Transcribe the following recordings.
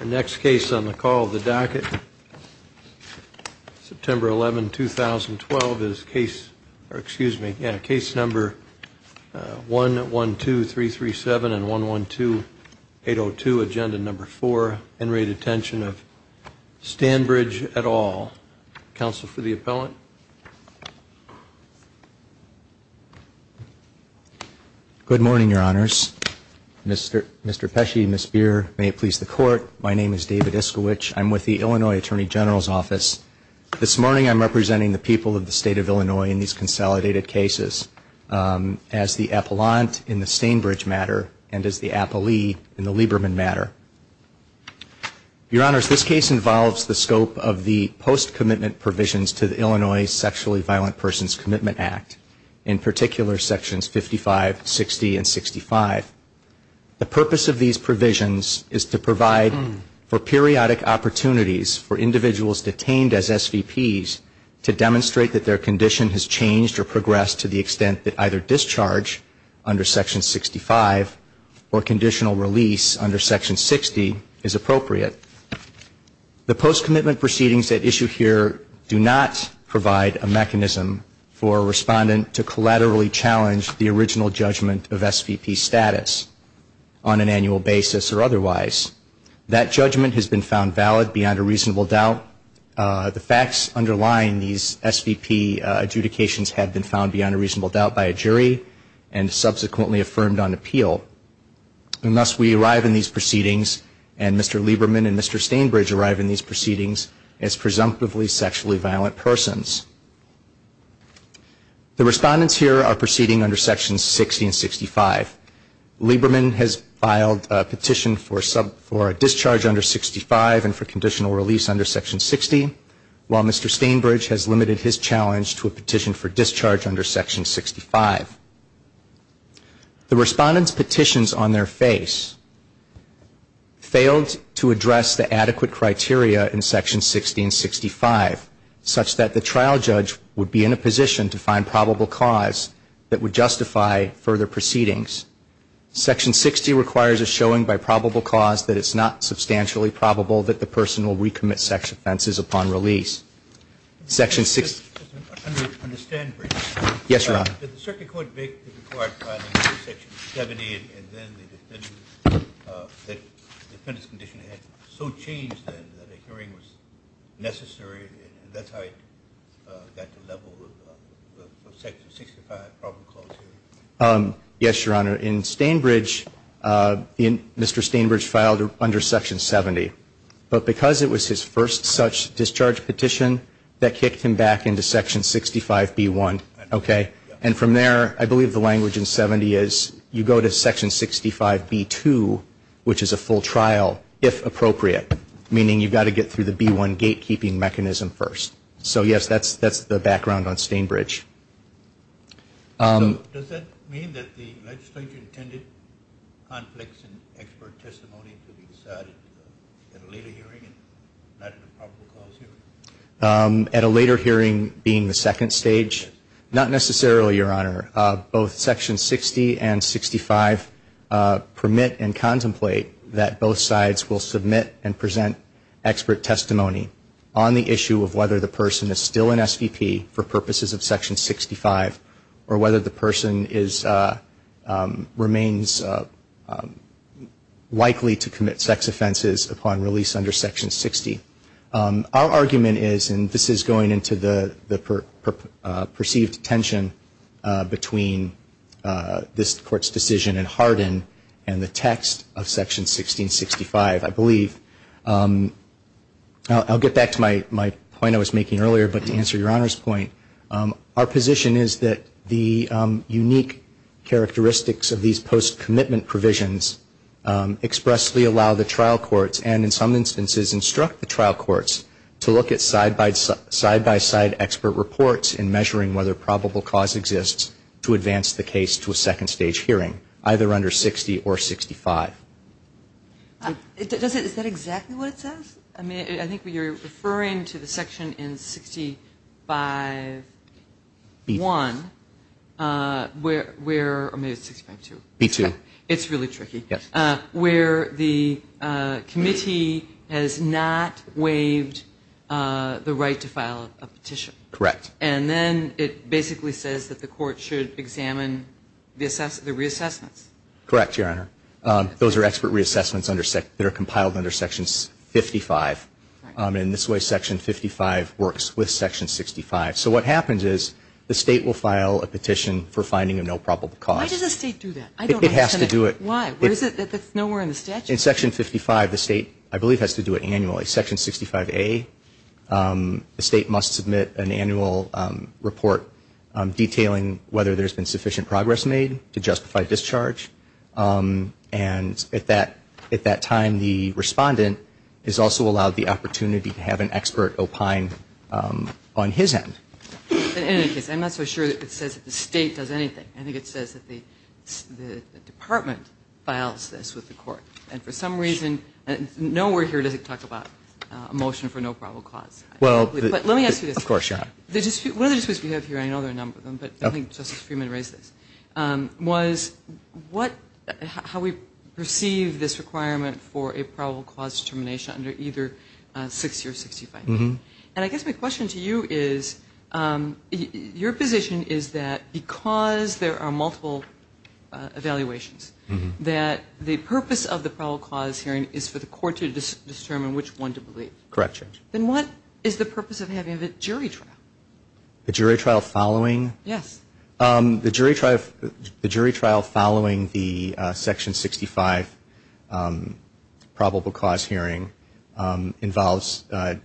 Our next case on the call of the docket September 11 2012 is case or excuse me yeah case number 1 1 2 3 3 7 and 1 1 2 8 0 2 agenda number 4 and rate attention of Stanbridge at all counsel for the appellant Good morning, your honors. Mr. Pesci, Ms. Beer, may it please the court, my name is David Iskowich. I'm with the Illinois Attorney General's Office. This morning I'm representing the people of the state of Illinois in these consolidated cases as the appellant in the Stanbridge matter and as the appellee in the Lieberman matter. Your honors, this case involves the scope of the post-commitment provisions to the Illinois Sexually Violent Persons Commitment Act, in particular sections 55, 60, and 65. The purpose of these provisions is to provide for periodic opportunities for individuals detained as SVPs to demonstrate that their condition has changed or progressed to the extent that either discharge under section 60 is appropriate. The post-commitment proceedings at issue here do not provide a mechanism for a respondent to collaterally challenge the original judgment of SVP status on an annual basis or otherwise. That judgment has been found valid beyond a reasonable doubt. The facts underlying these SVP adjudications have been found beyond a reasonable doubt by a jury and subsequently affirmed on appeal. And thus we arrive in these proceedings and Mr. Lieberman and Mr. Stainbridge arrive in these proceedings as presumptively sexually violent persons. The respondents here are proceeding under sections 60 and 65. Lieberman has filed a petition for a discharge under 65 and for conditional release under section 60, while Mr. Stainbridge has limited his challenge to a petition for discharge under section 65. The respondents' petitions on their face failed to address the adequate criteria in section 60 and 65, such that the trial judge would be in a position to find probable cause that would justify further proceedings. Section 60 requires a showing by probable cause that it's not substantially probable that the person will recommit sexual offenses upon release. Section 60 under Stainbridge. Yes, Your Honor. Did the circuit court make the required filing for section 70 and then the defendant's condition had so changed then that a hearing was necessary and that's how it got to the level of section 65 probable cause hearing? Yes, Your Honor. In Stainbridge, Mr. Stainbridge filed under section 70, but because it was his first such discharge petition, that kicked him back into section 65B1, okay? And from there, I believe the language in 70 is you go to section 65B2, which is a full trial, if appropriate, meaning you've got to get through the B1 gatekeeping mechanism first. So yes, that's the background on Stainbridge. Does that mean that the legislature intended conflicts in expert testimony to be decided at a later hearing and not in a probable cause hearing? At a later hearing being the second stage? Not necessarily, Your Honor. Both section 60 and 65 permit and contemplate that both sides will submit and present expert testimony on the issue of whether the person is still an SVP for purposes of section 65 or whether the person remains likely to commit sex offenses upon release under section 60. Our argument is, and this is going into the perceived tension between this court's decision in Hardin and the text of section 1665, I believe. I'll get back to my point I was making earlier, but to answer Your Honor's point, our position is that the unique characteristics of these post-commitment provisions expressly allow the trial courts, and in some instances instruct the trial courts, to look at side-by-side expert reports in measuring whether probable cause exists to advance the case to a second I think you're referring to the section in 65-1, or maybe it's 65-2. B-2. It's really tricky. Where the committee has not waived the right to file a petition. Correct. And then it basically says that the court should examine the reassessments. Correct, Your Honor. Those are expert In this way, section 55 works with section 65. So what happens is the state will file a petition for finding a no probable cause. Why does the state do that? I don't understand it. It has to do it. Why? Where is it? It's nowhere in the statute. In section 55, the state, I believe, has to do it annually. Section 65A, the state must submit an annual report detailing whether there's been sufficient progress made to justify discharge. And at that time, the respondent is also allowed the opportunity to have an expert opine on his end. In any case, I'm not so sure that it says that the state does anything. I think it says that the department files this with the court. And for some reason, nowhere here does it talk about a motion for no probable cause. But let me ask you this. Of course, Your Honor. One of the disputes we have here, I know there are a number of them, but I think Justice Freeman raised this, was how we perceive this requirement for a probable cause determination under either 60 or 65. And I guess my question to you is, your position is that because there are multiple evaluations, that the purpose of the probable cause hearing is for the court to determine which one to believe. Correct, Your Honor. Then what is the purpose of having a jury trial? A jury trial following? Yes. The jury trial following the section 65 probable cause hearing involves a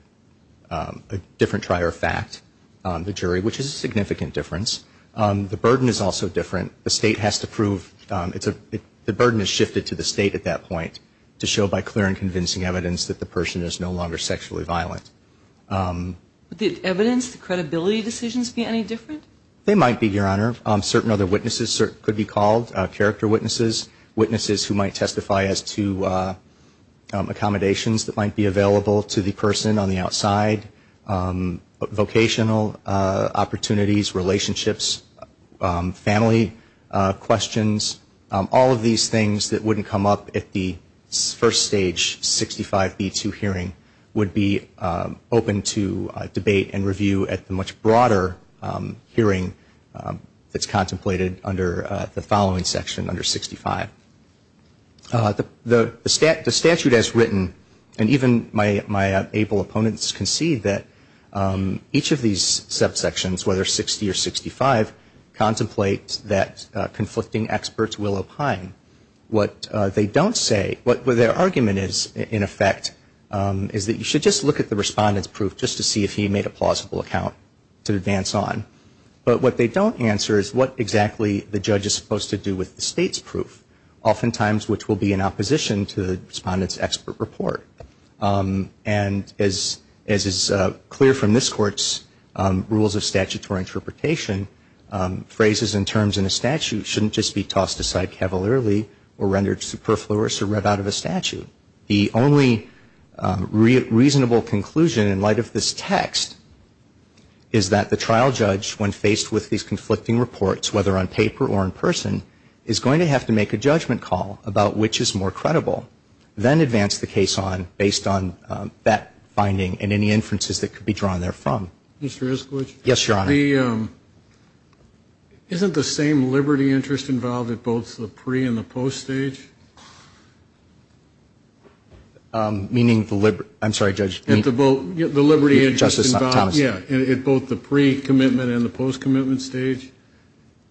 different trial fact, the jury, which is a significant difference. The burden is also different. The state has to prove the burden has shifted to the state at that point to show by clear and convincing evidence that the person is no longer sexually violent. Would the evidence, the credibility decisions be any different? They might be, Your Honor. Certain other witnesses could be called character witnesses, witnesses who might testify as to accommodations that might be available to the person on the outside, vocational opportunities, relationships, family questions. All of these things that wouldn't come up at the first stage 65B2 hearing would be open to debate and review at the much broader hearing that's contemplated under the following section, under 65. The statute as written, and even my able opponents can see that each of these subsections, whether 60 or 65, contemplates that conflicting experts will opine. What they don't say, what their argument is, in effect, is that you should just look at the respondent's proof just to see if he made a plausible account to advance on. But what they don't answer is what exactly the judge is supposed to do with the state's proof, oftentimes which will be in opposition to the respondent's expert report. And as is clear from this Court's rules of statutory interpretation, phrases and terms in a statute shouldn't just be tossed aside cavalierly or rendered superfluous or read out of a statute. The only reasonable conclusion in light of this text is that the trial judge, when faced with these conflicting reports, whether on paper or in person, is going to have to make a judgment call about which is more credible, then advance the case on based on that finding and any inferences that could be drawn therefrom. Mr. Iskowitz? Yes, Your Honor. Isn't the same liberty interest involved at both the pre- and the post-stage? Meaning the liberty ‑‑ I'm sorry, Judge. The liberty interest involved at both the pre-commitment and the post-commitment stage?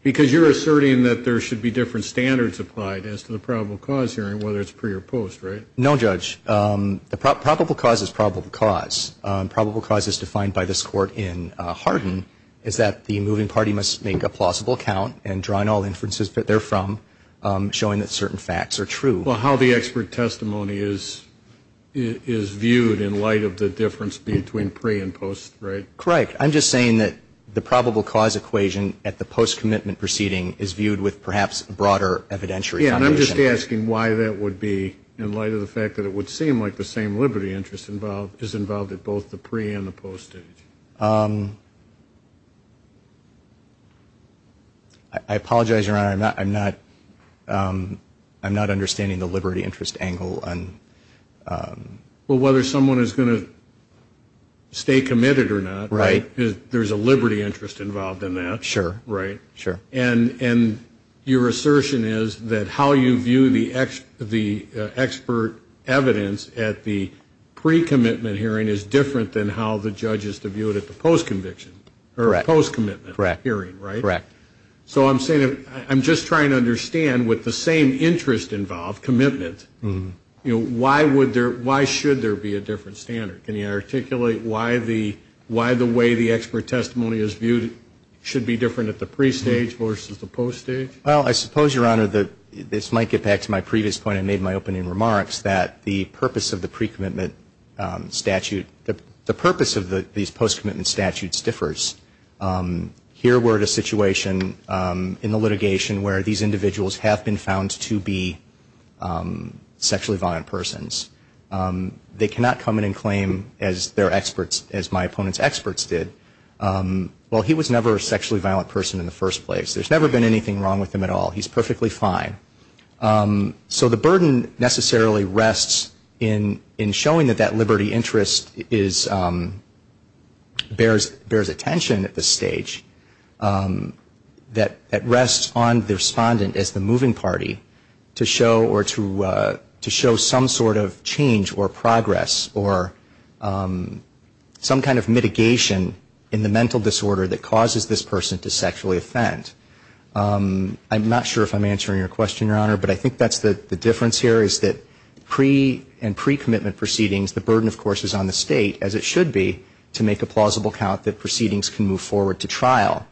Because you're asserting that there should be different standards applied as to the probable cause hearing, whether it's pre or post, right? No, Judge. The probable cause is probable cause. Probable cause is defined by this Court in Hardin, is that the moving party must make a plausible account and draw in all Well, how the expert testimony is viewed in light of the difference between pre and post, right? Correct. I'm just saying that the probable cause equation at the post-commitment proceeding is viewed with perhaps a broader evidentiary Yeah, and I'm just asking why that would be in light of the fact that it would seem like the same liberty interest is involved at both the pre- and the post-stage. I apologize, Your Honor, I'm not understanding the liberty interest angle. Well, whether someone is going to stay committed or not, there's a liberty interest involved in that. Sure. Right? Sure. And your assertion is that how you view the expert evidence at the pre-commitment hearing is different than how the judges view it at the post-commitment hearing, right? Correct. So I'm just trying to understand, with the same interest involved, commitment, why should there be a different standard? Can you articulate why the way the expert testimony is viewed should be different at the pre-stage versus the post-stage? Well, I suppose, Your Honor, this might get back to my previous point I made in my opening remarks, that the purpose of the post-commitment statute differs. Here we're at a situation in the litigation where these individuals have been found to be sexually violent persons. They cannot come in and claim as their experts, as my opponent's experts did. Well, he was never a sexually violent person in the first place. There's never been anything wrong with him at all. He's perfectly fine. So the burden necessarily rests in showing that that liberty interest bears attention at this stage. That rests on the respondent as the moving party to show some sort of change or progress or some kind of mitigation in the mental disorder that causes this person to sexually offend. I'm not sure if I'm answering your question, Your Honor, but I think that's the difference here is that pre- and pre-commitment proceedings, the burden, of course, is on the state, as it should be, to make a plausible count that proceedings can move forward to trial.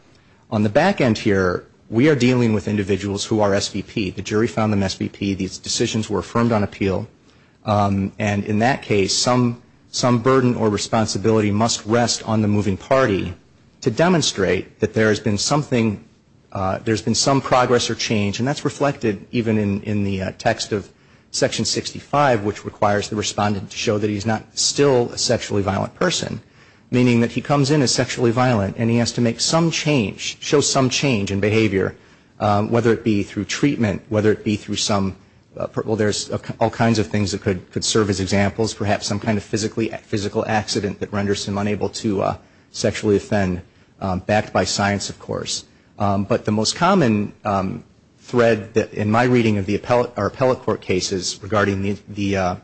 On the back end here, we are dealing with individuals who are SVP. The jury found them SVP. These decisions were affirmed on appeal. And in that case, some burden or responsibility must rest on the moving party to demonstrate that there has been something, there's been some progress or change, and that's reflected even in the text of Section 65, which requires the respondent to show that he's not still a sexually violent person, meaning that he comes in as sexually violent and he has to make some change, show some change in behavior, whether it be through treatment, whether it be through some, well, there's all kinds of things that could serve as examples, perhaps some kind of physical accident that renders him unable to sexually offend, backed by science, of course. But the most common thread in my reading of the appellate or appellate court cases regarding the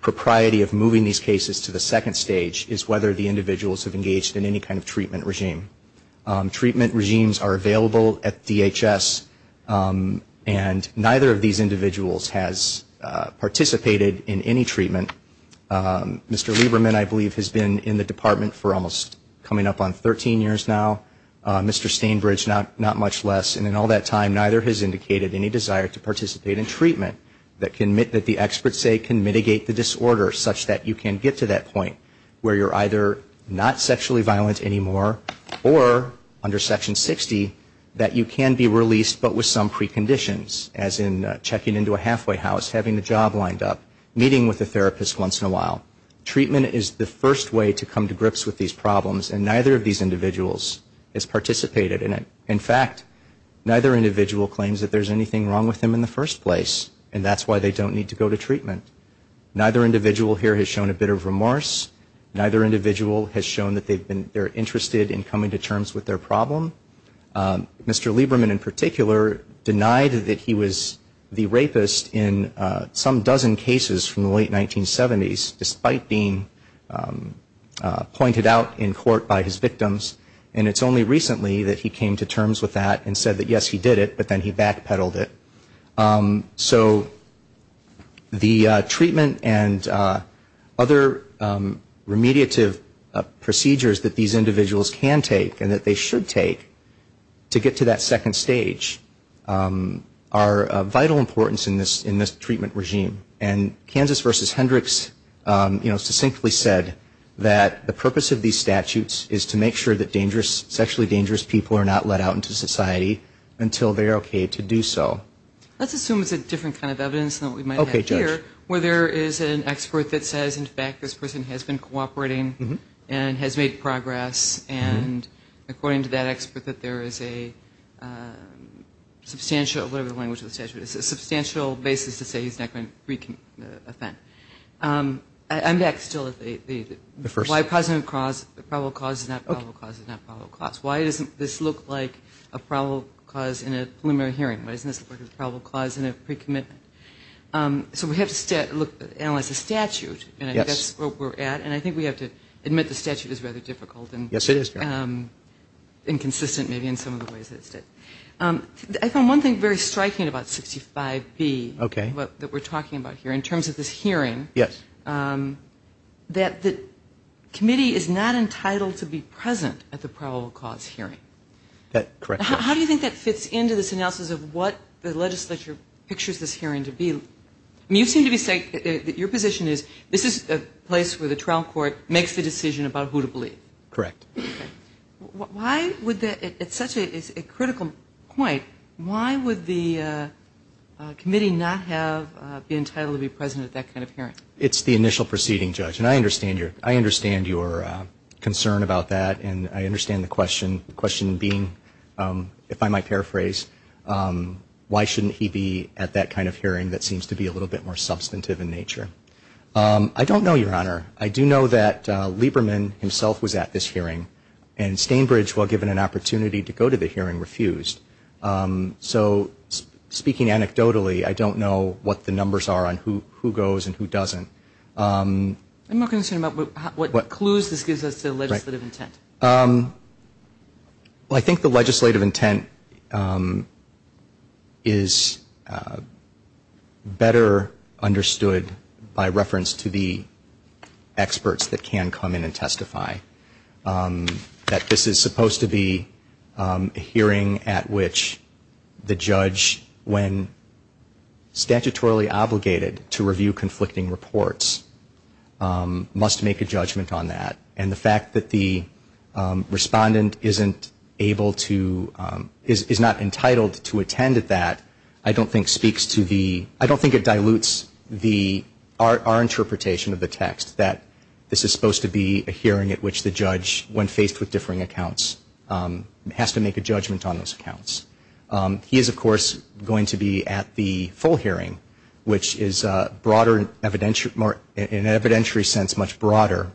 propriety of moving these cases to the second stage is whether the individuals have engaged in any kind of treatment regime. Treatment regimes are available at DHS, and neither of these individuals has participated in any treatment. Mr. Lieberman, I believe, has been in the department for almost, coming up on 13 years now. Mr. Stainbridge, not much less. And in all that time, neither has indicated any desire to participate in treatment that the experts say can mitigate the disorder such that you can get to that point where you're either not sexually violent anymore or, under Section 60, that you can be released but with some preconditions, as in checking into a halfway house, having the job lined up, meeting with a therapist once in a while. Treatment is the first way to come to grips with these problems, and neither of these individuals has participated in it. In fact, neither individual claims that there's anything wrong with him in the first place, and that's why they don't need to go to treatment. Neither individual here has shown a bit of remorse. Neither individual has shown that they're interested in coming to terms with their problem. Mr. Lieberman, in particular, denied that he was the rapist in some dozen cases from the late 1970s, despite being pointed out in court by his victims, and it's only recently that he came to terms with that and said that, yes, he did it, but then he backpedaled it. So the treatment and other remediative procedures that these individuals can take and that they should take to get to that second stage are vital importance in this treatment regime. And Kansas v. Hendricks, you know, succinctly said that the purpose of these statutes is to make sure that dangerous, sexually dangerous people are not let out into society until they're okay to do so. Let's assume it's a different kind of evidence than what we might have here, where there is an expert that says, in fact, this person has been cooperating and has made progress, and according to that expert, that there is a substantial, whatever the language of the statute is, a substantial basis to say he's not going to wreak an offense. I'm back still at the first. Why a positive cause, a probable cause is not a probable cause is not a probable cause. Why doesn't this look like a probable cause in a pre-commitment? So we have to analyze the statute, and I think that's where we're at, and I think we have to admit the statute is rather difficult and inconsistent maybe in some of the ways that it's done. I found one thing very striking about 65B that we're talking about here in terms of this hearing, that the committee is not entitled to be present at the probable cause hearing. How do you think that fits into this analysis of what the statute is? How do you think the legislature pictures this hearing to be? I mean, you seem to be saying that your position is this is a place where the trial court makes the decision about who to believe. Correct. Why would the, at such a critical point, why would the committee not have been entitled to be present at that kind of hearing? It's the initial proceeding, Judge, and I understand your concern about that, and I understand the question, the question being, if I might paraphrase, why shouldn't he be at that kind of hearing that seems to be a little bit more substantive in nature. I don't know, Your Honor. I do know that Lieberman himself was at this hearing, and Stainbridge, while given an opportunity to go to the hearing, refused. So speaking anecdotally, I don't know what the numbers are on who goes and who doesn't. I'm not concerned about what clues this gives us to legislative intent. Well, I think the legislative intent is better understood by reference to the experts that can come in and testify. That this is supposed to be a hearing at which the judge, when statutorily obligated to review conflicting reports, must make a judgment on that, and the fact that the respondent isn't able to, is not entitled to attend at that, I don't think speaks to the, I don't think it dilutes the, our interpretation of the text, that this is supposed to be a hearing at which the judge, when faced with differing accounts, has to make a judgment on those accounts. He is, of course, going to be at the full hearing, which is broader in evidentiary, in an evidentiary sense much broader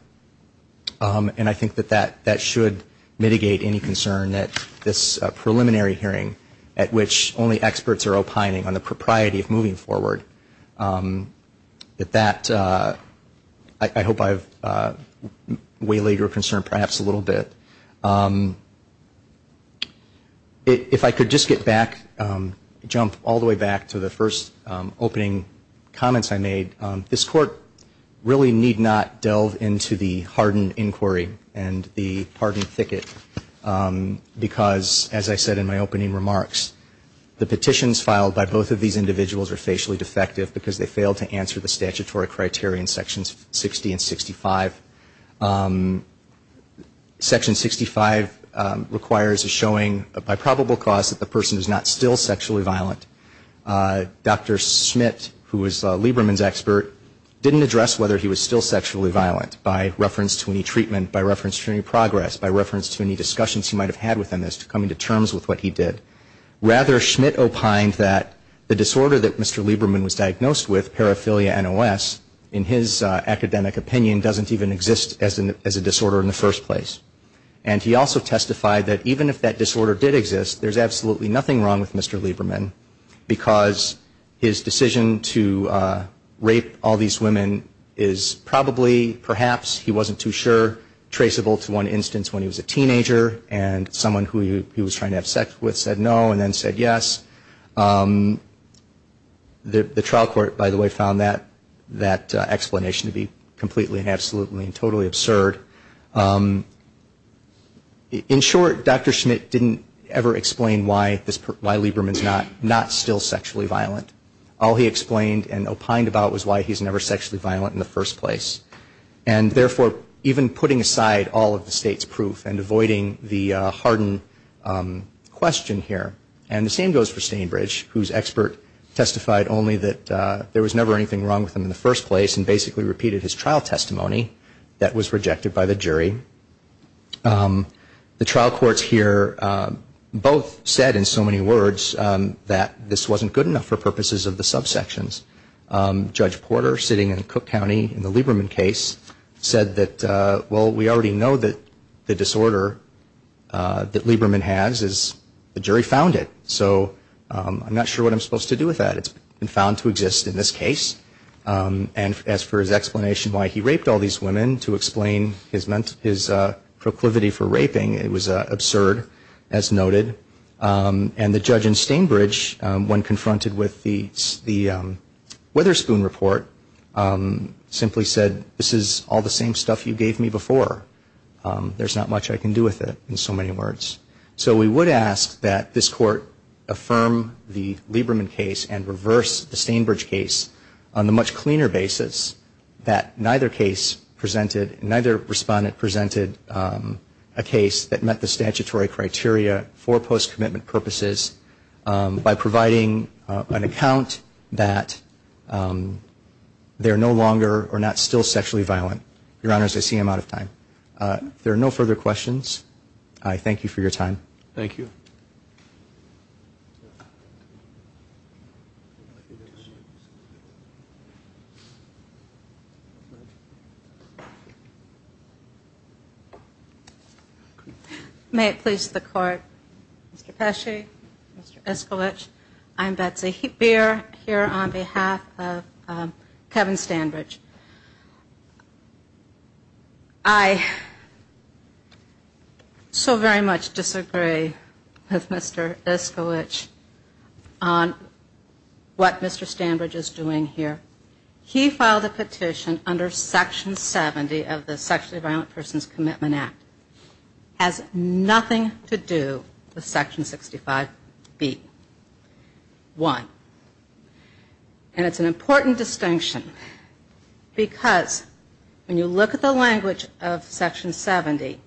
than the preliminary hearing, and I think that that should mitigate any concern that this preliminary hearing, at which only experts are opining on the propriety of moving forward, that that, I hope I've waylaid your concern perhaps a little bit. If I could just get back, jump all the way back to the first opening comments I made, this Court really need not delve into the pardon inquiry and the pardon thicket, because, as I said in my opening remarks, the petitions filed by both of these individuals are facially defective because they failed to answer the statutory criteria in Sections 60 and 65. Section 65 requires a showing, by probable cause, that the person is not still sexually violent. Dr. Schmidt, who was Lieberman's expert, didn't address whether he was still sexually violent, by reference to his testimony, by reference to any treatment, by reference to any progress, by reference to any discussions he might have had within this, coming to terms with what he did. Rather, Schmidt opined that the disorder that Mr. Lieberman was diagnosed with, paraphilia NOS, in his academic opinion, doesn't even exist as a disorder in the first place. And he also testified that even if that disorder did exist, there's absolutely nothing wrong with Mr. Lieberman, because his decision to rape all these women is probably, perhaps, he wasn't too sure, traceable to one instance when he was a teenager, and someone who he was trying to have sex with said no and then said yes. The trial court, by the way, found that explanation to be completely and absolutely and totally absurd. In short, Dr. Schmidt didn't ever explain why Lieberman's not still sexually violent. All he explained and opined about was why he was never sexually violent in the first place. And, therefore, even putting aside all of the State's proof and avoiding the hardened question here. And the same goes for Stainbridge, whose expert testified only that there was never anything wrong with him in the first place and basically repeated his trial testimony that was rejected by the jury. The trial courts here both said, in so many words, that this wasn't good enough for purposes of the subsections. Judge Porter sitting in Cook County in the Lieberman case said that, well, we already know that the disorder that Lieberman has is, the jury found it. So I'm not sure what I'm supposed to do with that. It's been found to exist in this case. And as for his explanation why he raped all these women, to explain his proclivity for raping, it was absurd, as noted. And the judge in Stainbridge, when confronted with the Witherspoon report, simply said, this is all the same stuff you gave me before. There's not much I can do with it, in so many words. So we would ask that this Court affirm the Lieberman case and reverse the Stainbridge case on the much cleaner basis that neither case presented, neither respondent presented a case that met the statutory criteria for post-commitment purposes by providing an account that they're no longer or not still sexually violent. Your Honors, I see I'm out of time. If there are no further questions, I thank you for your time. Thank you. May it please the Court. Mr. Pesci, Mr. Iskalich, I'm Betsy Beer, here on behalf of the Court of Appeals. And on behalf of Kevin Stainbridge, I so very much disagree with Mr. Iskalich on what Mr. Stainbridge is doing here. He filed a petition under Section 70 of the Sexually Violent Persons Commitment Act. It has nothing to do with Section 65B. One, it has nothing to do with the language of Section 70. And it's an important distinction because when you look at the language of Section 70,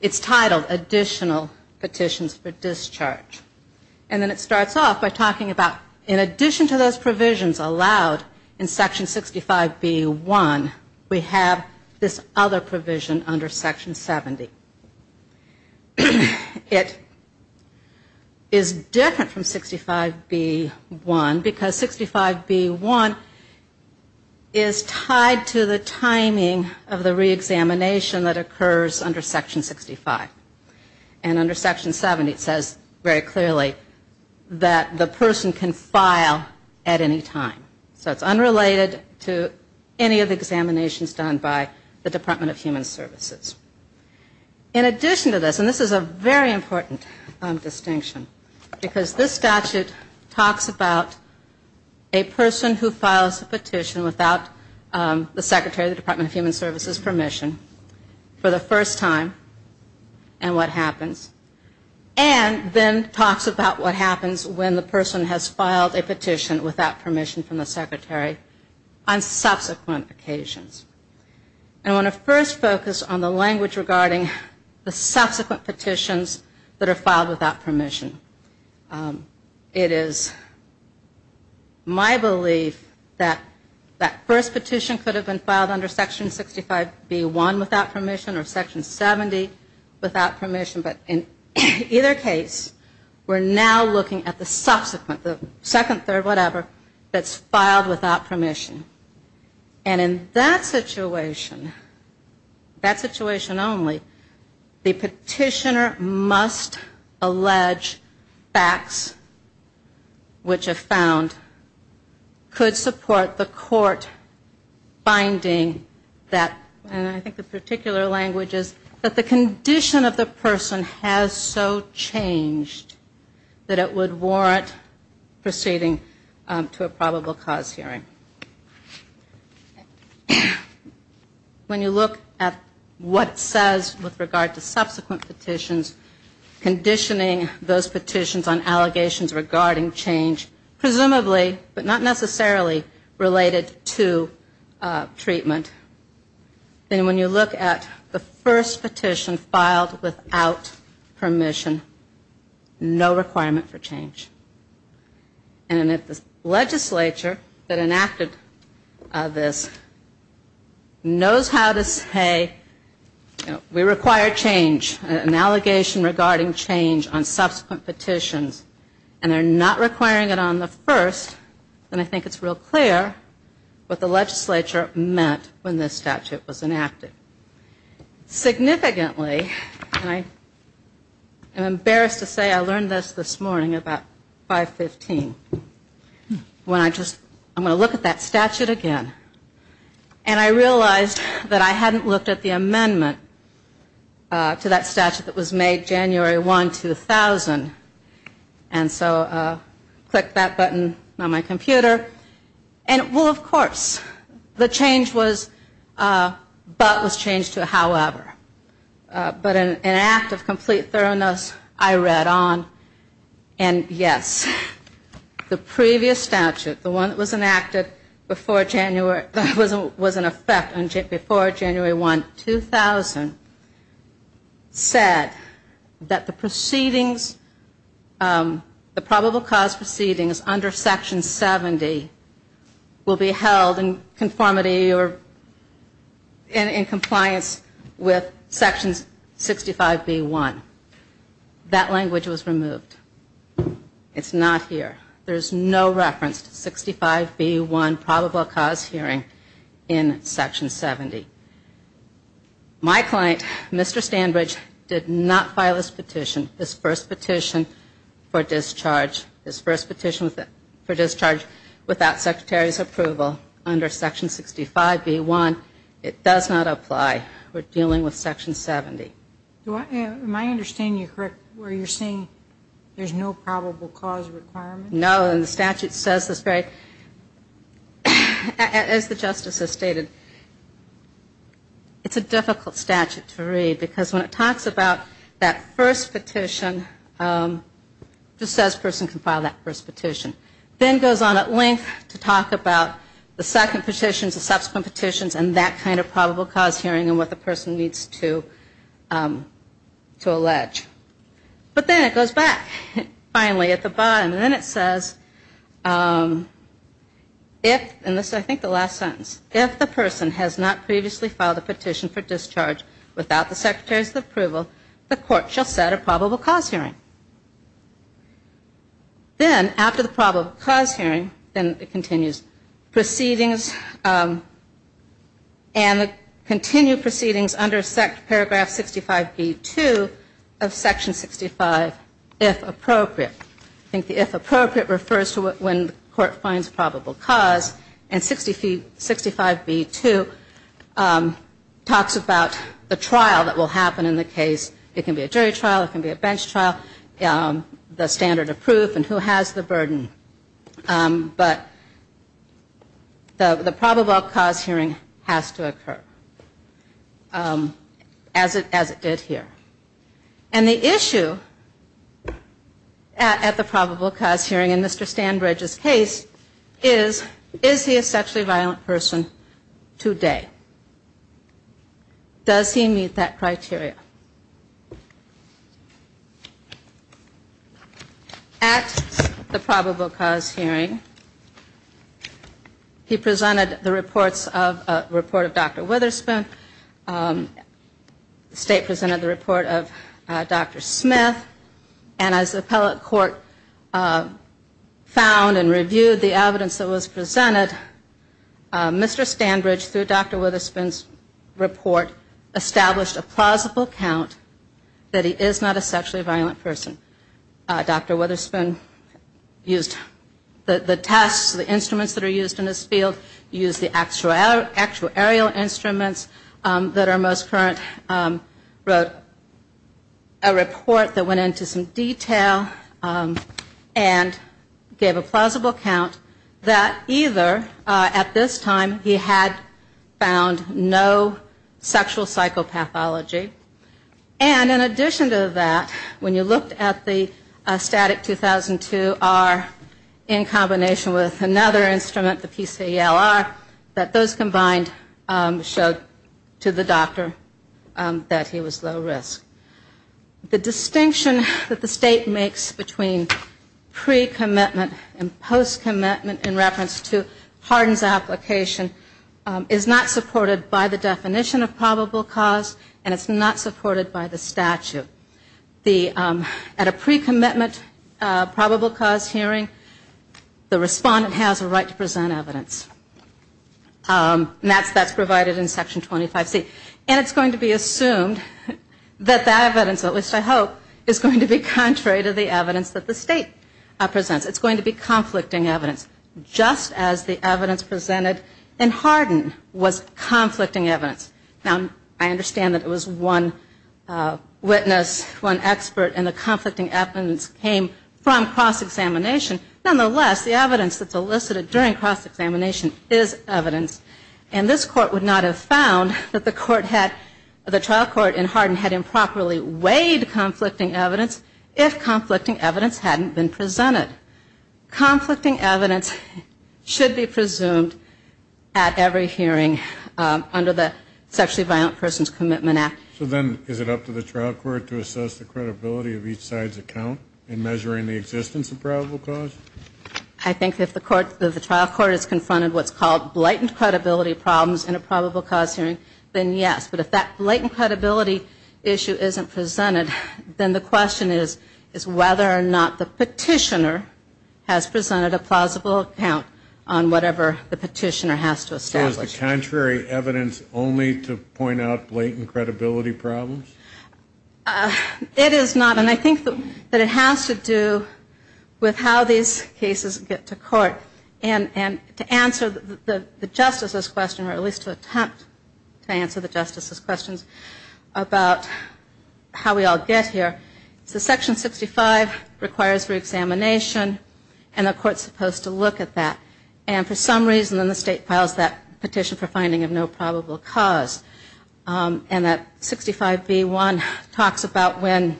it's titled Additional Petitions for Discharge. And then it starts off by talking about in addition to those provisions allowed in Section 65B.1, we have this other provision under Section 70. It is different from 65B.1 because 65B.1 is tied to the timing of the reexamination that occurs under Section 65. And under Section 70, it says very clearly that the person can file at any time. So it's unrelated to any of the examinations done by the Department of Human Services. In addition to this, and this is a very important distinction, because this statute talks about a person who files a petition without the Secretary of the Department of Human Services permission for the first time and what happens. And then talks about what happens when the person has filed a petition without permission from the Secretary on subsequent occasions. And I want to first focus on the language regarding the subsequent petitions that are filed without permission. It is my belief that that first petition could have been filed under Section 65B.1 without permission or Section 70 without permission. But in either case, we're now looking at the subsequent, the second, third, whatever, that's filed without permission. And in that situation, the petitioner must allege facts which are found could support the court finding that, and I think the particular language is that the condition of the person has so changed that it would warrant proceeding to a probable cause hearing. When you look at what it says with regard to subsequent petitions, conditioning those petitions on allegations regarding change, presumably, but not necessarily related to treatment. And when you look at the first petition filed without permission, no requirement for change. And if the legislature that enacted this knows how to say, you know, we require change, an allegation regarding change on subsequent petitions, and they're not requiring it on the first, then I think it's real clear what the legislature meant when this statute was enacted. Significantly, and I'm embarrassed to say I learned this this morning about 515, when I just, I'm going to look at that statute again, and I realized that I hadn't looked at the amendment to that statute that was made January 1, 2000. And so I clicked that button on my computer, and it will, of course, the change was, but was made on January 1, 2000. And so I looked at that statute, and it was changed to however. But an act of complete thoroughness, I read on, and yes, the previous statute, the one that was enacted before January, that was in effect before January 1, 2000, said that the proceedings, the probable cause proceedings under Section 70 will be held in conformity or, in conformity with the statute. And I have clients with Section 65B1. That language was removed. It's not here. There's no reference to 65B1 probable cause hearing in Section 70. My client, Mr. Standridge, did not file this petition, this first petition for discharge, this first petition for discharge without Secretary's approval under Section 65B1. It does not apply. We're dealing with Section 70. Am I understanding you correctly where you're saying there's no probable cause requirement? No, and the statute says this very, as the Justice has stated, it's a difficult statute to read, because when it talks about that first petition, it just says a person can file that first petition. Then it goes on at length to talk about the problem and what the person needs to allege. But then it goes back, finally, at the bottom, and then it says, if, and this is I think the last sentence, if the person has not previously filed a petition for discharge without the Secretary's approval, the court shall set a probable cause hearing. Then, after the probable cause hearing, then it continues, proceedings, and the continued proceedings will be held in the same way. The proceedings under paragraph 65B2 of Section 65, if appropriate. I think the if appropriate refers to when the court finds probable cause, and 65B2 talks about the trial that will happen in the case. It can be a jury trial, it can be a bench trial, the standard of proof, and who has the burden. But the probable cause hearing has to occur. As it did here. And the issue at the probable cause hearing in Mr. Stanbridge's case is, is he a sexually violent person today? Does he meet that criteria? At the probable cause hearing, he presented the reports of, report of Dr. Witherspoon, and he presented the report of Dr. Smith, and as the appellate court found and reviewed the evidence that was presented, Mr. Stanbridge, through Dr. Witherspoon's report, established a plausible count that he is not a sexually violent person. Dr. Witherspoon used the tests, the instruments that are used in this field, used the actuarial instruments that are used in this case, and he presented the report of Dr. Smith, and Dr. Mostcurrent wrote a report that went into some detail and gave a plausible count that either at this time he had found no sexual psychopathology, and in addition to that, when you looked at the STATIC 2002-R in combination with another instrument, the PCLR, that those combined showed to the doctor that he was not a sexually violent person, and the other instrument, the PCLR, showed to the doctor that he was low risk. The distinction that the State makes between pre-commitment and post-commitment in reference to pardons application is not supported by the definition of probable cause, and it's not supported by the statute. At a pre-commitment probable cause hearing, the respondent has a right to present evidence. And that's provided in Section 25C. And it's going to be assumed that that evidence, at least I hope, is going to be contrary to the evidence that the State presents. It's going to be conflicting evidence, just as the evidence presented in Hardin was conflicting evidence. Now, I understand that it was one witness, one expert, and the conflicting evidence came from cross-examination. Nonetheless, the evidence that's elicited during cross-examination is evidence, and this Court would not have found that the Court had improperly weighed conflicting evidence if conflicting evidence hadn't been presented. Conflicting evidence should be presumed at every hearing under the Sexually Violent Persons Commitment Act. So then is it up to the trial court to assess the credibility of each side's account in measuring the existence of probable cause? I think if the trial court has confronted what's called blighted credibility problems in a probable cause hearing, then yes. But if that blighted credibility issue isn't presented, then the question is whether or not the petitioner has presented a plausible account on whatever the petitioner has to establish. So is the contrary evidence only to point out blighted credibility problems? It is not. And I think that it has to do with how these cases get to court. And to answer the Justice's question, or at least to attempt to answer the Justice's questions about how we all get here, it's that Section 65 requires reexamination, and the Court's supposed to look at that. And for some reason, then the State files that Petition for Finding of No Probable Cause. And that 65b1 talks about when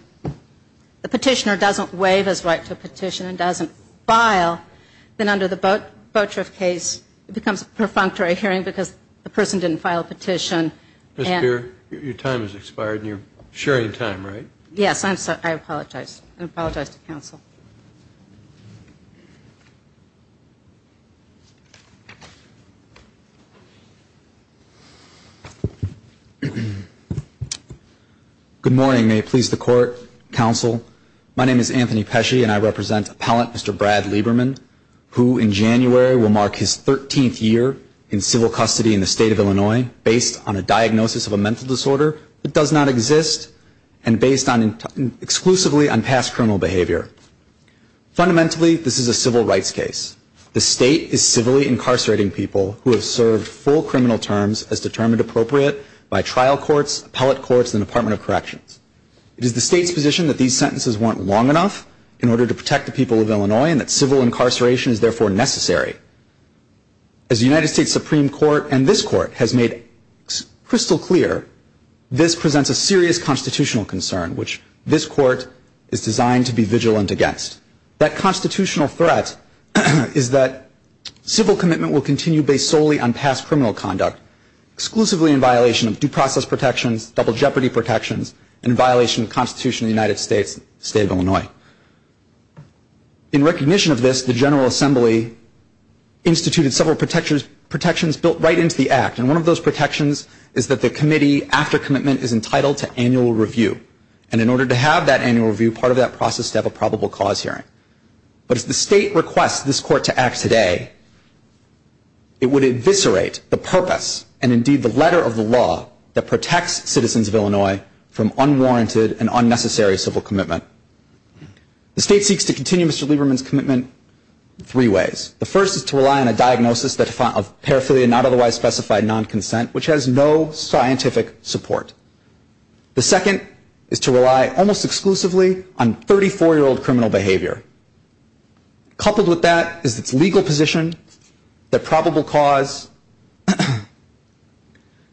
the petitioner doesn't waive his right to petition and doesn't file, then under the Petition for Finding of No Probable Cause, it becomes a perfunctory hearing because the person didn't file a petition. Ms. Beer, your time has expired, and you're sharing time, right? Yes, I apologize. I apologize to counsel. Good morning. May it please the Court, counsel. My name is Anthony Pesci, and I represent appellant Mr. Brad Lieberman, who in January will mark his 13th year in civil custody in the State of Illinois, based on a diagnosis of a mental disorder that does not exist, and based exclusively on past criminal behavior. Fundamentally, this is a civil rights case. The State is civilly incarcerating people who have served full criminal terms as determined appropriate by trial courts, appellate courts, and the Department of Corrections. It is the State's position that these sentences weren't long enough in order to protect the people of Illinois, and therefore, it is necessary. As the United States Supreme Court and this Court has made crystal clear, this presents a serious constitutional concern, which this Court is designed to be vigilant against. That constitutional threat is that civil commitment will continue based solely on past criminal conduct, exclusively in violation of due process protections, double jeopardy protections, and in violation of the Constitution of the United States and the State of Illinois. In recognition of this, the General Assembly instituted several protections built right into the Act, and one of those protections is that the committee, after commitment, is entitled to annual review, and in order to have that annual review, part of that process is to have a probable cause hearing. But if the State requests this Court to act today, it would eviscerate the purpose and indeed the letter of the law that protects citizens of Illinois from unwarranted and unnecessary civil commitment. The State seeks to continue Mr. Lieberman's commitment three ways. The first is to rely on a diagnosis of paraphilia, not otherwise specified non-consent, which has no scientific support. The second is to rely almost exclusively on 34-year-old criminal behavior. Coupled with that is its legal position that probable cause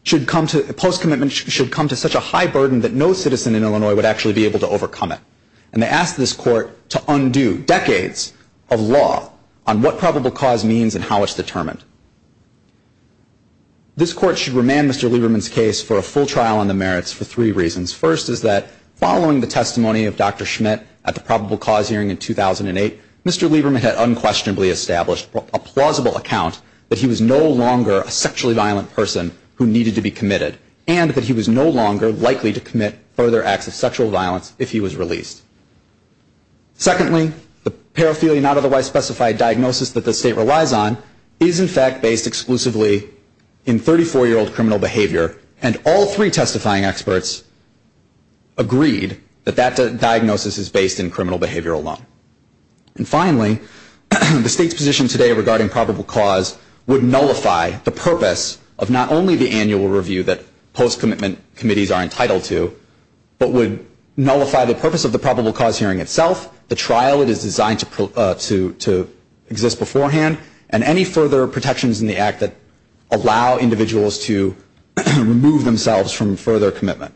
should come to, post-commitment, should come to such a high burden that no court should be able to undo decades of law on what probable cause means and how it's determined. This Court should remand Mr. Lieberman's case for a full trial on the merits for three reasons. First is that following the testimony of Dr. Schmidt at the probable cause hearing in 2008, Mr. Lieberman had unquestionably established a plausible account that he was no longer a sexually violent person who needed to be committed, and that he was no longer likely to commit further acts of sexual violence if he was convicted. Secondly, the paraphilia not otherwise specified diagnosis that the State relies on is, in fact, based exclusively in 34-year-old criminal behavior, and all three testifying experts agreed that that diagnosis is based in criminal behavior alone. And finally, the State's position today regarding probable cause would nullify the purpose of not only the annual review that post-commitment committees are entitled to, but would nullify the purpose of the probable cause hearing itself. The trial is designed to exist beforehand, and any further protections in the act that allow individuals to remove themselves from further commitment.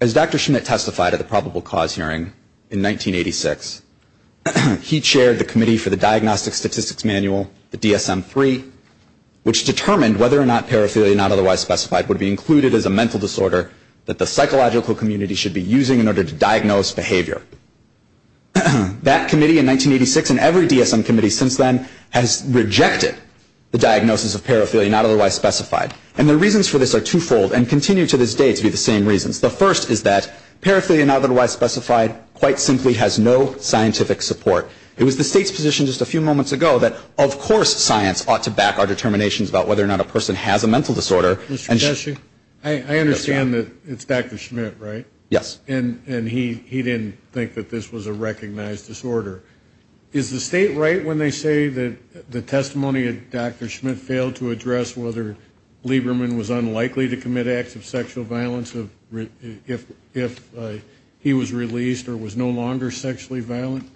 As Dr. Schmidt testified at the probable cause hearing in 1986, he chaired the committee for the Diagnostic Statistics Manual, the DSM-3, which determined whether or not paraphilia not otherwise specified would be included as a mental disorder that the psychological community should be using in order to diagnose behavior. That committee in 1986 and every DSM committee since then has rejected the diagnosis of paraphilia not otherwise specified, and the reasons for this are twofold and continue to this day to be the same reasons. The first is that paraphilia not otherwise specified quite simply has no scientific support. It was the State's position just a few moments ago that, of course, science ought to back our determinations about whether or not a person has a mental disorder. And I understand that it's Dr. Schmidt, right? Yes. And he didn't think that this was a recognized disorder. Is the State right when they say that the testimony of Dr. Schmidt failed to address whether Lieberman was unlikely to commit acts of sexual violence if he was released or was no longer sexually violent?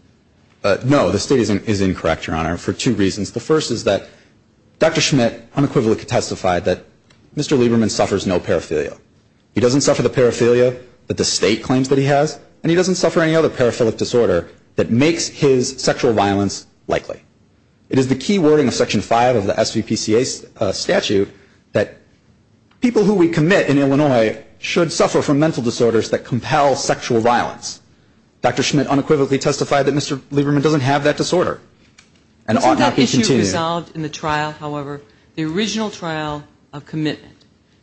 No, the State is incorrect, Your Honor, for two reasons. The first is that Dr. Schmidt unequivocally testified that Mr. Lieberman suffers no paraphilia. He doesn't suffer the paraphilia that the State claims that he has, and he doesn't suffer any other paraphilic disorder that makes his sexual violence likely. It is the key wording of Section 5 of the SVPCA statute that people who we commit in Illinois should suffer from mental disorders that compel sexual violence. Dr. Schmidt unequivocally testified that Mr. Lieberman doesn't have that disorder. Isn't that issue resolved in the trial, however, the original trial of commitment?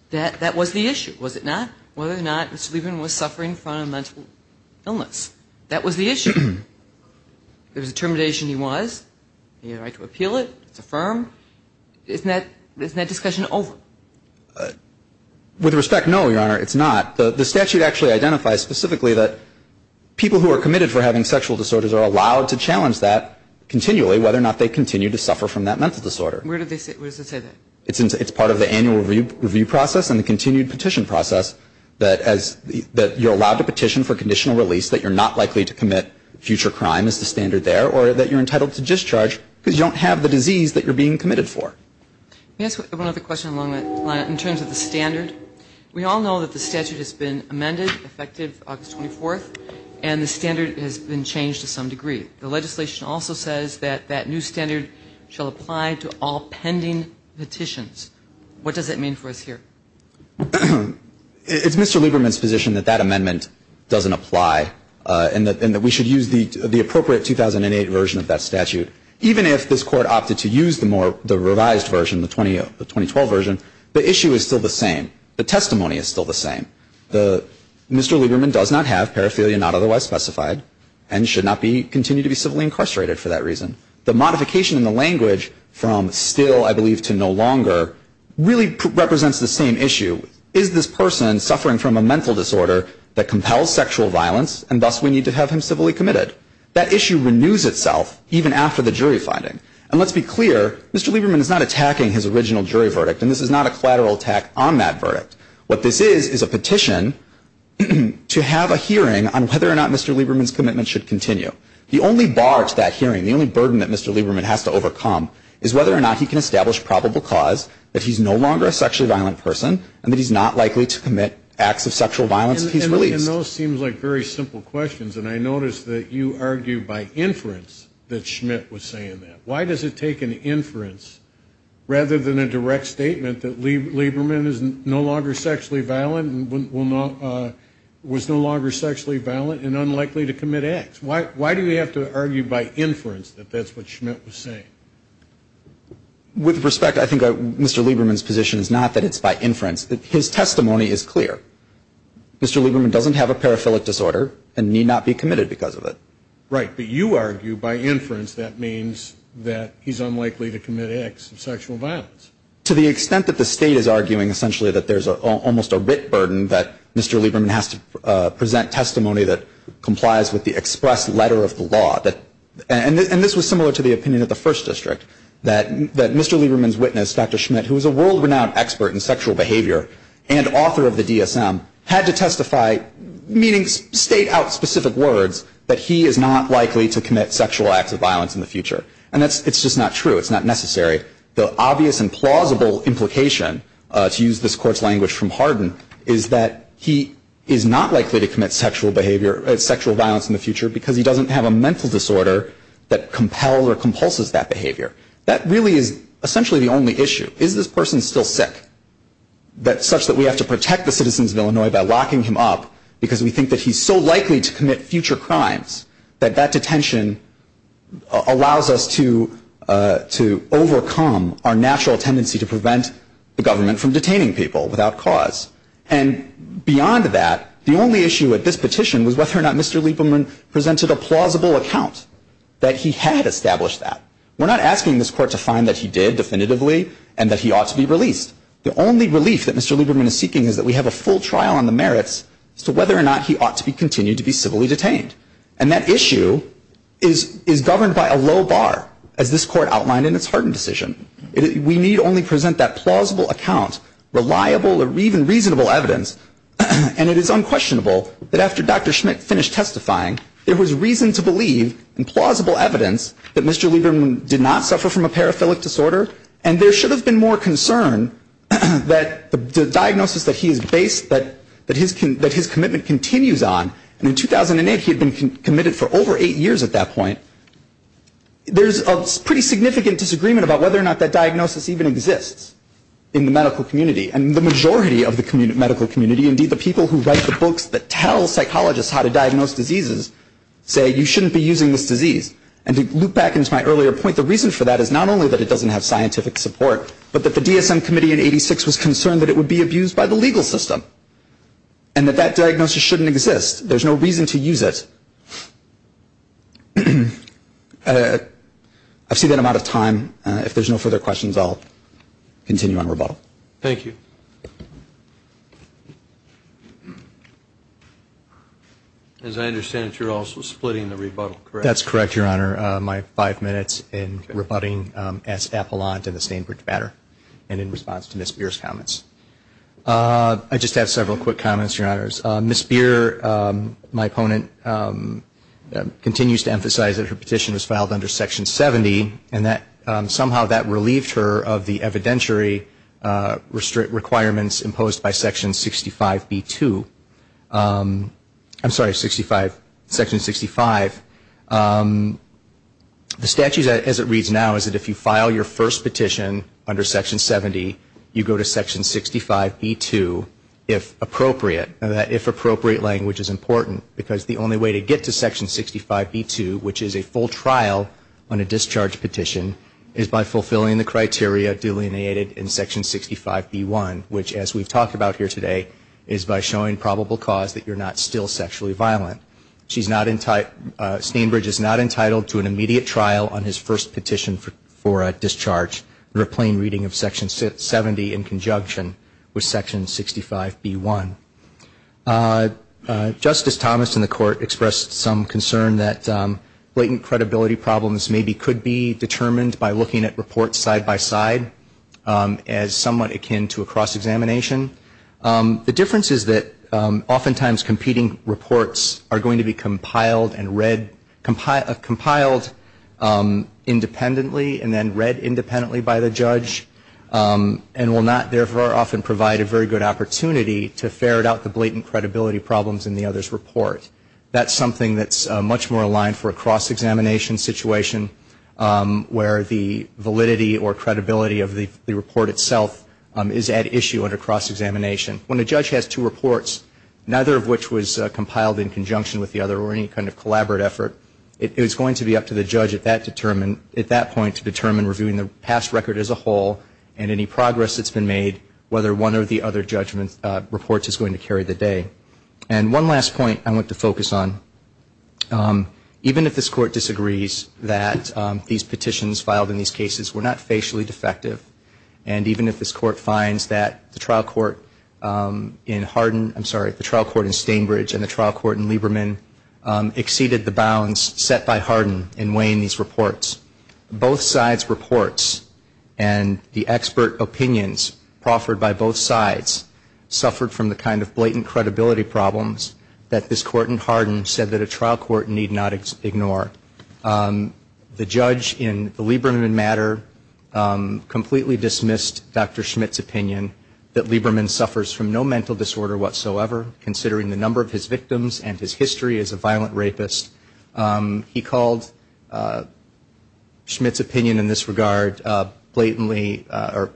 That was the issue, was it not? Whether or not Mr. Lieberman was suffering from a mental illness. That was the issue. There was a termination. He was. He had a right to appeal it. It's affirmed. Isn't that discussion over? With respect, no, Your Honor, it's not. The statute actually identifies specifically that people who are committed for having sexual disorders are allowed to challenge that continually, whether or not they continue to suffer from that mental disorder. Where does it say that? It's part of the annual review process and the continued petition process, that you're allowed to petition for conditional release, that you're not likely to commit future crime is the standard there, or that you're entitled to discharge because you don't have the disease that you're being committed for. Let me ask one other question along that line. In terms of the standard, we all know that the statute has been amended, effective August 24th, and that the statute has been amended and the standard has been changed to some degree. The legislation also says that that new standard shall apply to all pending petitions. What does that mean for us here? It's Mr. Lieberman's position that that amendment doesn't apply and that we should use the appropriate 2008 version of that statute. Even if this Court opted to use the revised version, the 2012 version, the issue is still the same. The testimony is still the same. Mr. Lieberman does not have paraphilia not otherwise specified and should not continue to be civilly incarcerated for that reason. The modification in the language from still, I believe, to no longer, really represents the same issue. Is this person suffering from a mental disorder that compels sexual violence and thus we need to have him civilly committed? That issue renews itself even after the jury finding. And let's be clear, Mr. Lieberman is not attacking his original jury verdict and this is not a collateral attack on that verdict. What this is, is a petition to have a hearing on whether or not Mr. Lieberman's commitment should continue. The only bar to that hearing, the only burden that Mr. Lieberman has to overcome is whether or not he can establish probable cause that he's no longer a sexually violent person and that he's not likely to commit acts of sexual violence if he's released. And those seem like very simple questions and I notice that you argue by inference that Schmidt was saying that. Why does it take an inference rather than a direct statement that Lieberman is no longer sexually violent and was no longer sexually violent and unlikely to commit acts? Why do we have to argue by inference that that's what Schmidt was saying? With respect, I think Mr. Lieberman's position is not that it's by inference. His testimony is clear. Mr. Lieberman doesn't have a paraphilic disorder and need not be committed because of it. Right, but you argue by inference that means that he's unlikely to commit acts of sexual violence. To the extent that the state is arguing essentially that there's almost a writ burden that Mr. Lieberman has to present testimony that complies with the express letter of the law, and this was similar to the opinion of the first district, that Mr. Lieberman's witness, Dr. Schmidt, who was a world-renowned expert in sexual behavior and author of the DSM, had to testify that Mr. Lieberman's testimony, meaning state out specific words, that he is not likely to commit sexual acts of violence in the future. And it's just not true. It's not necessary. The obvious and plausible implication, to use this Court's language from Hardin, is that he is not likely to commit sexual violence in the future because he doesn't have a mental disorder that compels or compulses that behavior. That really is essentially the only issue. Is this person still sick such that we have to protect the person because we think that he's so likely to commit future crimes that that detention allows us to overcome our natural tendency to prevent the government from detaining people without cause? And beyond that, the only issue at this petition was whether or not Mr. Lieberman presented a plausible account that he had established that. We're not asking this Court to find that he did definitively and that he ought to be released. The only relief that Mr. Lieberman is seeking is that we have a full trial on the merits as to whether or not he ought to be continued to be civilly detained. And that issue is governed by a low bar, as this Court outlined in its Hardin decision. We need only present that plausible account, reliable or even reasonable evidence, and it is unquestionable that after Dr. Schmidt finished testifying, there was reason to believe in plausible evidence that Mr. Lieberman did not suffer from a disease, that the diagnosis that he is based, that his commitment continues on, and in 2008 he had been committed for over eight years at that point, there's a pretty significant disagreement about whether or not that diagnosis even exists in the medical community. And the majority of the medical community, indeed the people who write the books that tell psychologists how to diagnose diseases, say you shouldn't be using this disease. And to loop back into my earlier point, the reason for that is not only that it doesn't have scientific support, but that the DSM Committee in 1986 was concerned that it would be abused by the legal system and that that diagnosis shouldn't exist. There's no reason to use it. I've seen an amount of time. If there's no further questions, I'll continue on rebuttal. Thank you. As I understand it, you're also splitting the rebuttal, correct? That's correct, Your Honor. My five minutes in rebutting S. Appelant in the Stainbridge matter and in response to Ms. Beer's comments. I just have several quick comments, Your Honors. Ms. Beer, my opponent, continues to emphasize that her petition was filed under Section 70, and that somehow that relieved her of the evidentiary requirements imposed by Section 65B2. I'm sorry, Section 65. The statute, as it reads now, is that if you file your first petition under Section 70, you go to Section 65B2, if appropriate. That if appropriate language is important, because the only way to get to Section 65B2, which is a full trial on a discharge petition, is by fulfilling the criteria delineated in Section 65B1, which, as we've talked about here today, is by showing probable cause that you're not still sexually violent. Stainbridge is not entitled to an immediate trial on his first petition for discharge under a plain reading of Section 70 in conjunction with Section 65B1. Justice Thomas in the Court expressed some concern that blatant credibility problems maybe could be the cause of the dispute, determined by looking at reports side-by-side as somewhat akin to a cross-examination. The difference is that oftentimes competing reports are going to be compiled and read, compiled independently, and then read independently by the judge, and will not therefore often provide a very good opportunity to ferret out the blatant credibility problems in the other's report. Where the validity or credibility of the report itself is at issue under cross-examination. When a judge has two reports, neither of which was compiled in conjunction with the other, or any kind of collaborate effort, it is going to be up to the judge at that point to determine reviewing the past record as a whole, and any progress that's been made, whether one or the other report is going to carry the day. And one last point I want to focus on. Even if this Court disagrees that these petitions filed in these cases were not facially defective, and even if this Court finds that the trial court in Hardin, I'm sorry, the trial court in Stainbridge and the trial court in Lieberman exceeded the bounds set by Hardin in weighing these reports, both sides' reports and the expert opinions proffered by both sides suffered from the kind of blatant credibility problems that this Court in Hardin said that a trial court need not ignore. The judge in the Lieberman matter completely dismissed Dr. Schmitt's opinion that Lieberman suffers from no mental disorder whatsoever, considering the number of his victims and his history as a violent rapist. He called Schmitt's opinion in this regard blatantly, or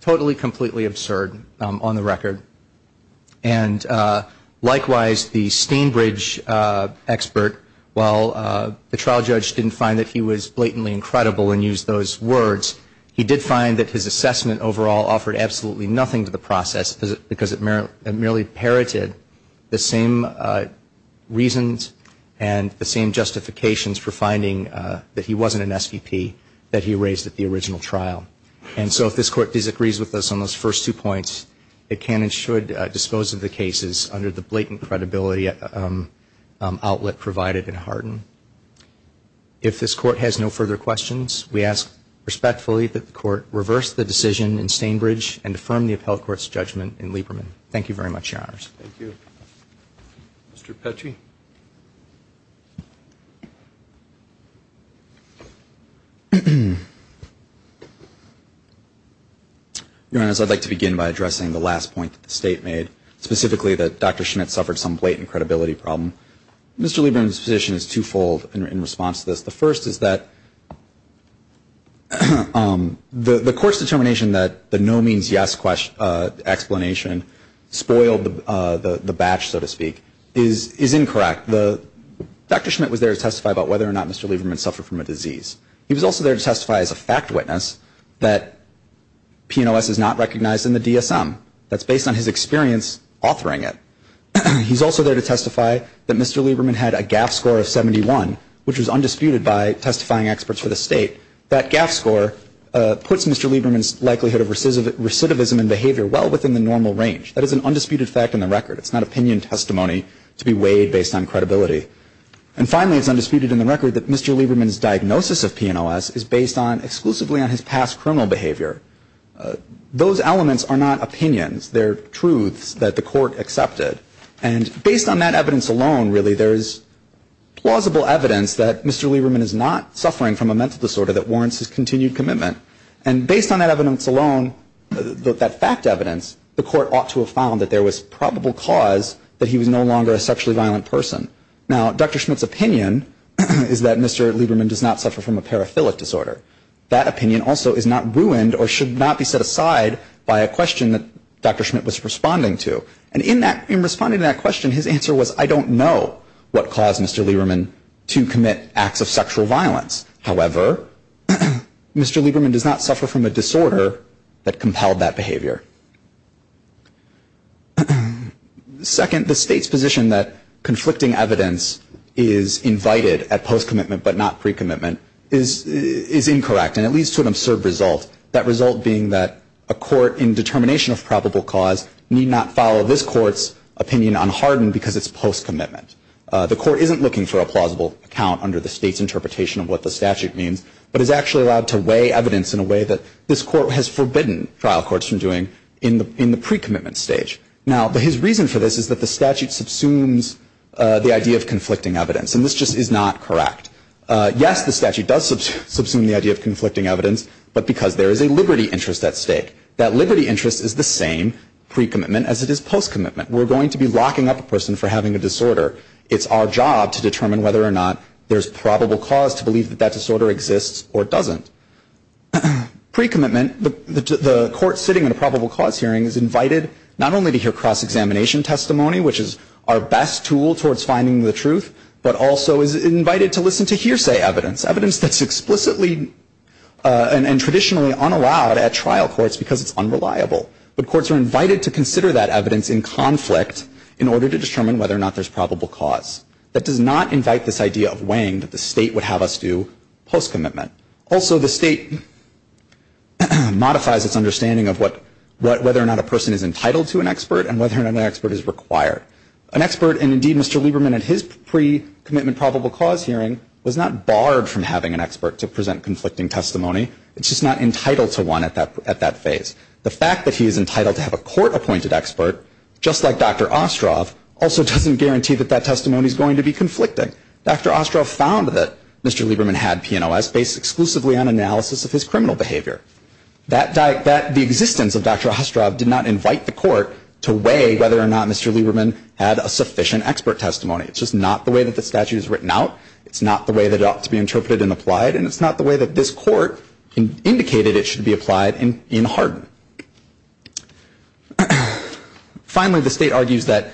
totally completely absurd on the record. And likewise, the Stainbridge expert, while the trial judge didn't find that he was blatantly incredible and used those words, he did find that his assessment overall offered absolutely nothing to the process, because it merely parroted the same reasons and the same justifications for finding that he wasn't an SVP that he raised at the original trial. And so if this Court disagrees with us on those first two points, it can and should dispose of the cases under the blatant credibility outlet provided in Hardin. If this Court has no further questions, we ask respectfully that the Court reverse the decision in Stainbridge and affirm the appellate court's judgment in Lieberman. Your Honor, I'd like to begin by addressing the last point that the State made, specifically that Dr. Schmitt suffered some blatant credibility problem. Mr. Lieberman's position is twofold in response to this. The first is that the Court's determination that the no means yes explanation spoiled the batch, so to speak, is incorrect. Dr. Schmitt was there to testify about whether or not Mr. Lieberman suffered from a disease. He was also there to testify as a fact witness that PNOS is not recognized in the DSM. That's based on his experience authoring it. He's also there to testify that Mr. Lieberman had a GAF score of 71, which was undisputed by testifying experts for the State. That GAF score puts Mr. Lieberman's likelihood of recidivism and behavior well within the normal range. That is an undisputed fact in the record. It's not opinion testimony to be weighed based on credibility. And finally, it's undisputed in the record that Mr. Lieberman's diagnosis of PNOS is based exclusively on his past criminal behavior. Those elements are not opinions. They're truths that the Court accepted. And based on that evidence alone, really, there is plausible evidence that Mr. Lieberman is not suffering from a mental disorder that warrants his continued commitment. And based on that evidence alone, that fact evidence, the Court ought to have found that there was probable cause that he was no longer a sexually violent person. Now, Dr. Schmidt's opinion is that Mr. Lieberman does not suffer from a paraphilic disorder. That opinion also is not ruined or should not be set aside by a question that Dr. Schmidt was responding to. And in responding to that question, his answer was, I don't know what caused Mr. Lieberman to commit acts of sexual violence. However, Mr. Lieberman does not suffer from a disorder that compelled that behavior. Second, the State's position that conflicting evidence is invited at post-commitment but not pre-commitment is incorrect, and it leads to an absurd result, that result being that a court in determination of probable cause need not follow this Court's opinion unhardened because it's post-commitment. The Court isn't looking for a plausible account under the State's interpretation of what the statute means, but is actually allowed to weigh evidence in a way that this Court has forbidden trial courts from doing. In the pre-commitment stage, now his reason for this is that the statute subsumes the idea of conflicting evidence, and this just is not correct. Yes, the statute does subsume the idea of conflicting evidence, but because there is a liberty interest at stake. That liberty interest is the same pre-commitment as it is post-commitment. We're going to be locking up a person for having a disorder. It's our job to determine whether or not there's probable cause to believe that that disorder exists or doesn't. Pre-commitment, the Court sitting in a probable cause hearing is invited not only to hear cross-examination testimony, which is our best tool towards finding the truth, but also is invited to listen to hearsay evidence, evidence that's explicitly and traditionally unallowed at trial courts because it's unreliable. But courts are invited to consider that evidence in conflict in order to determine whether or not there's probable cause. That does not invite this idea of weighing that the State would have us do post-commitment. The State modifies its understanding of whether or not a person is entitled to an expert and whether or not an expert is required. An expert, and indeed Mr. Lieberman at his pre-commitment probable cause hearing, was not barred from having an expert to present conflicting testimony. It's just not entitled to one at that phase. The fact that he is entitled to have a court-appointed expert, just like Dr. Ostroff, also doesn't guarantee that that testimony is going to be conflicting. Dr. Ostroff found that Mr. Lieberman had PNOS based exclusively on analysis of his criminal behavior. The existence of Dr. Ostroff did not invite the court to weigh whether or not Mr. Lieberman had a sufficient expert testimony. It's just not the way that the statute is written out. It's not the way that it ought to be interpreted and applied, and it's not the way that this court indicated it should be applied in Hardin. Finally, the State argues that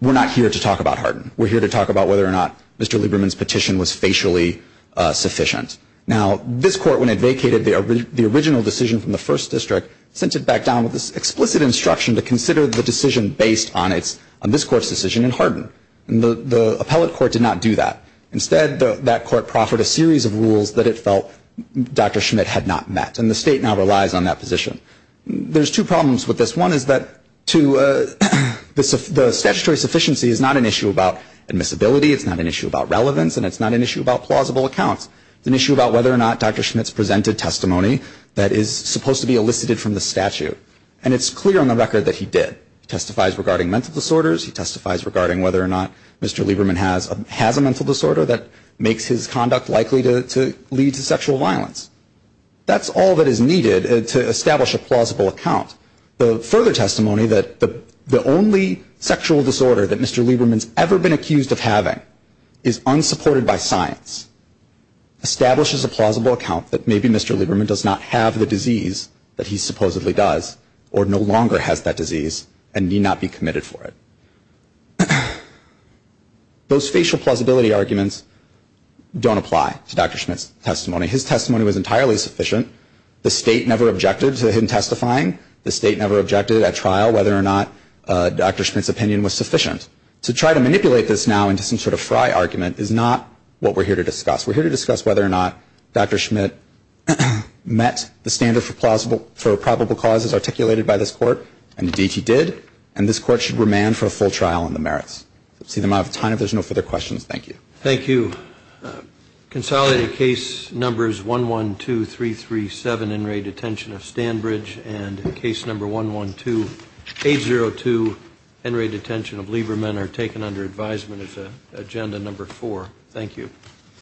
we're not here to talk about Hardin. We're here to talk about whether or not Mr. Lieberman's petition was facially sufficient. Now, this court, when it vacated the original decision from the First District, sent it back down with this explicit instruction to consider the decision based on this court's decision in Hardin. And the appellate court did not do that. Instead, that court proffered a series of rules that it felt Dr. Schmidt had not met, and the State now relies on that position. There's two problems with this. One is that the statutory sufficiency is not an issue about admissibility, it's not an issue about relevance, and it's not an issue about plausible accounts. It's an issue about whether or not Dr. Schmidt's presented testimony that is supposed to be elicited from the statute. And it's clear on the record that he did. He testifies regarding mental disorders, he testifies regarding whether or not Mr. Lieberman has a mental disorder that makes his conduct likely to lead to sexual violence. That's all that is needed to establish a plausible account. The further testimony that the only sexual disorder that Mr. Lieberman's ever been accused of having is unsupported by science, establishes a plausible account that maybe Mr. Lieberman does not have the disease that he supposedly does, or no longer has that disease. And may not be committed for it. Those facial plausibility arguments don't apply to Dr. Schmidt's testimony. His testimony was entirely sufficient. The State never objected to him testifying, the State never objected at trial whether or not Dr. Schmidt's opinion was sufficient. To try to manipulate this now into some sort of fry argument is not what we're here to discuss. We're here to discuss whether or not Dr. Schmidt met the standard for plausible, for probable causes articulated by this court, and indeed he did. And this court should remand for a full trial on the merits. That's the amount of time. If there's no further questions, thank you. Thank you. Consolidated case numbers 112337, in-rate detention of Stanbridge, and case number 112802, in-rate detention of Lieberman, are taken under advisement as agenda number four. Thank you.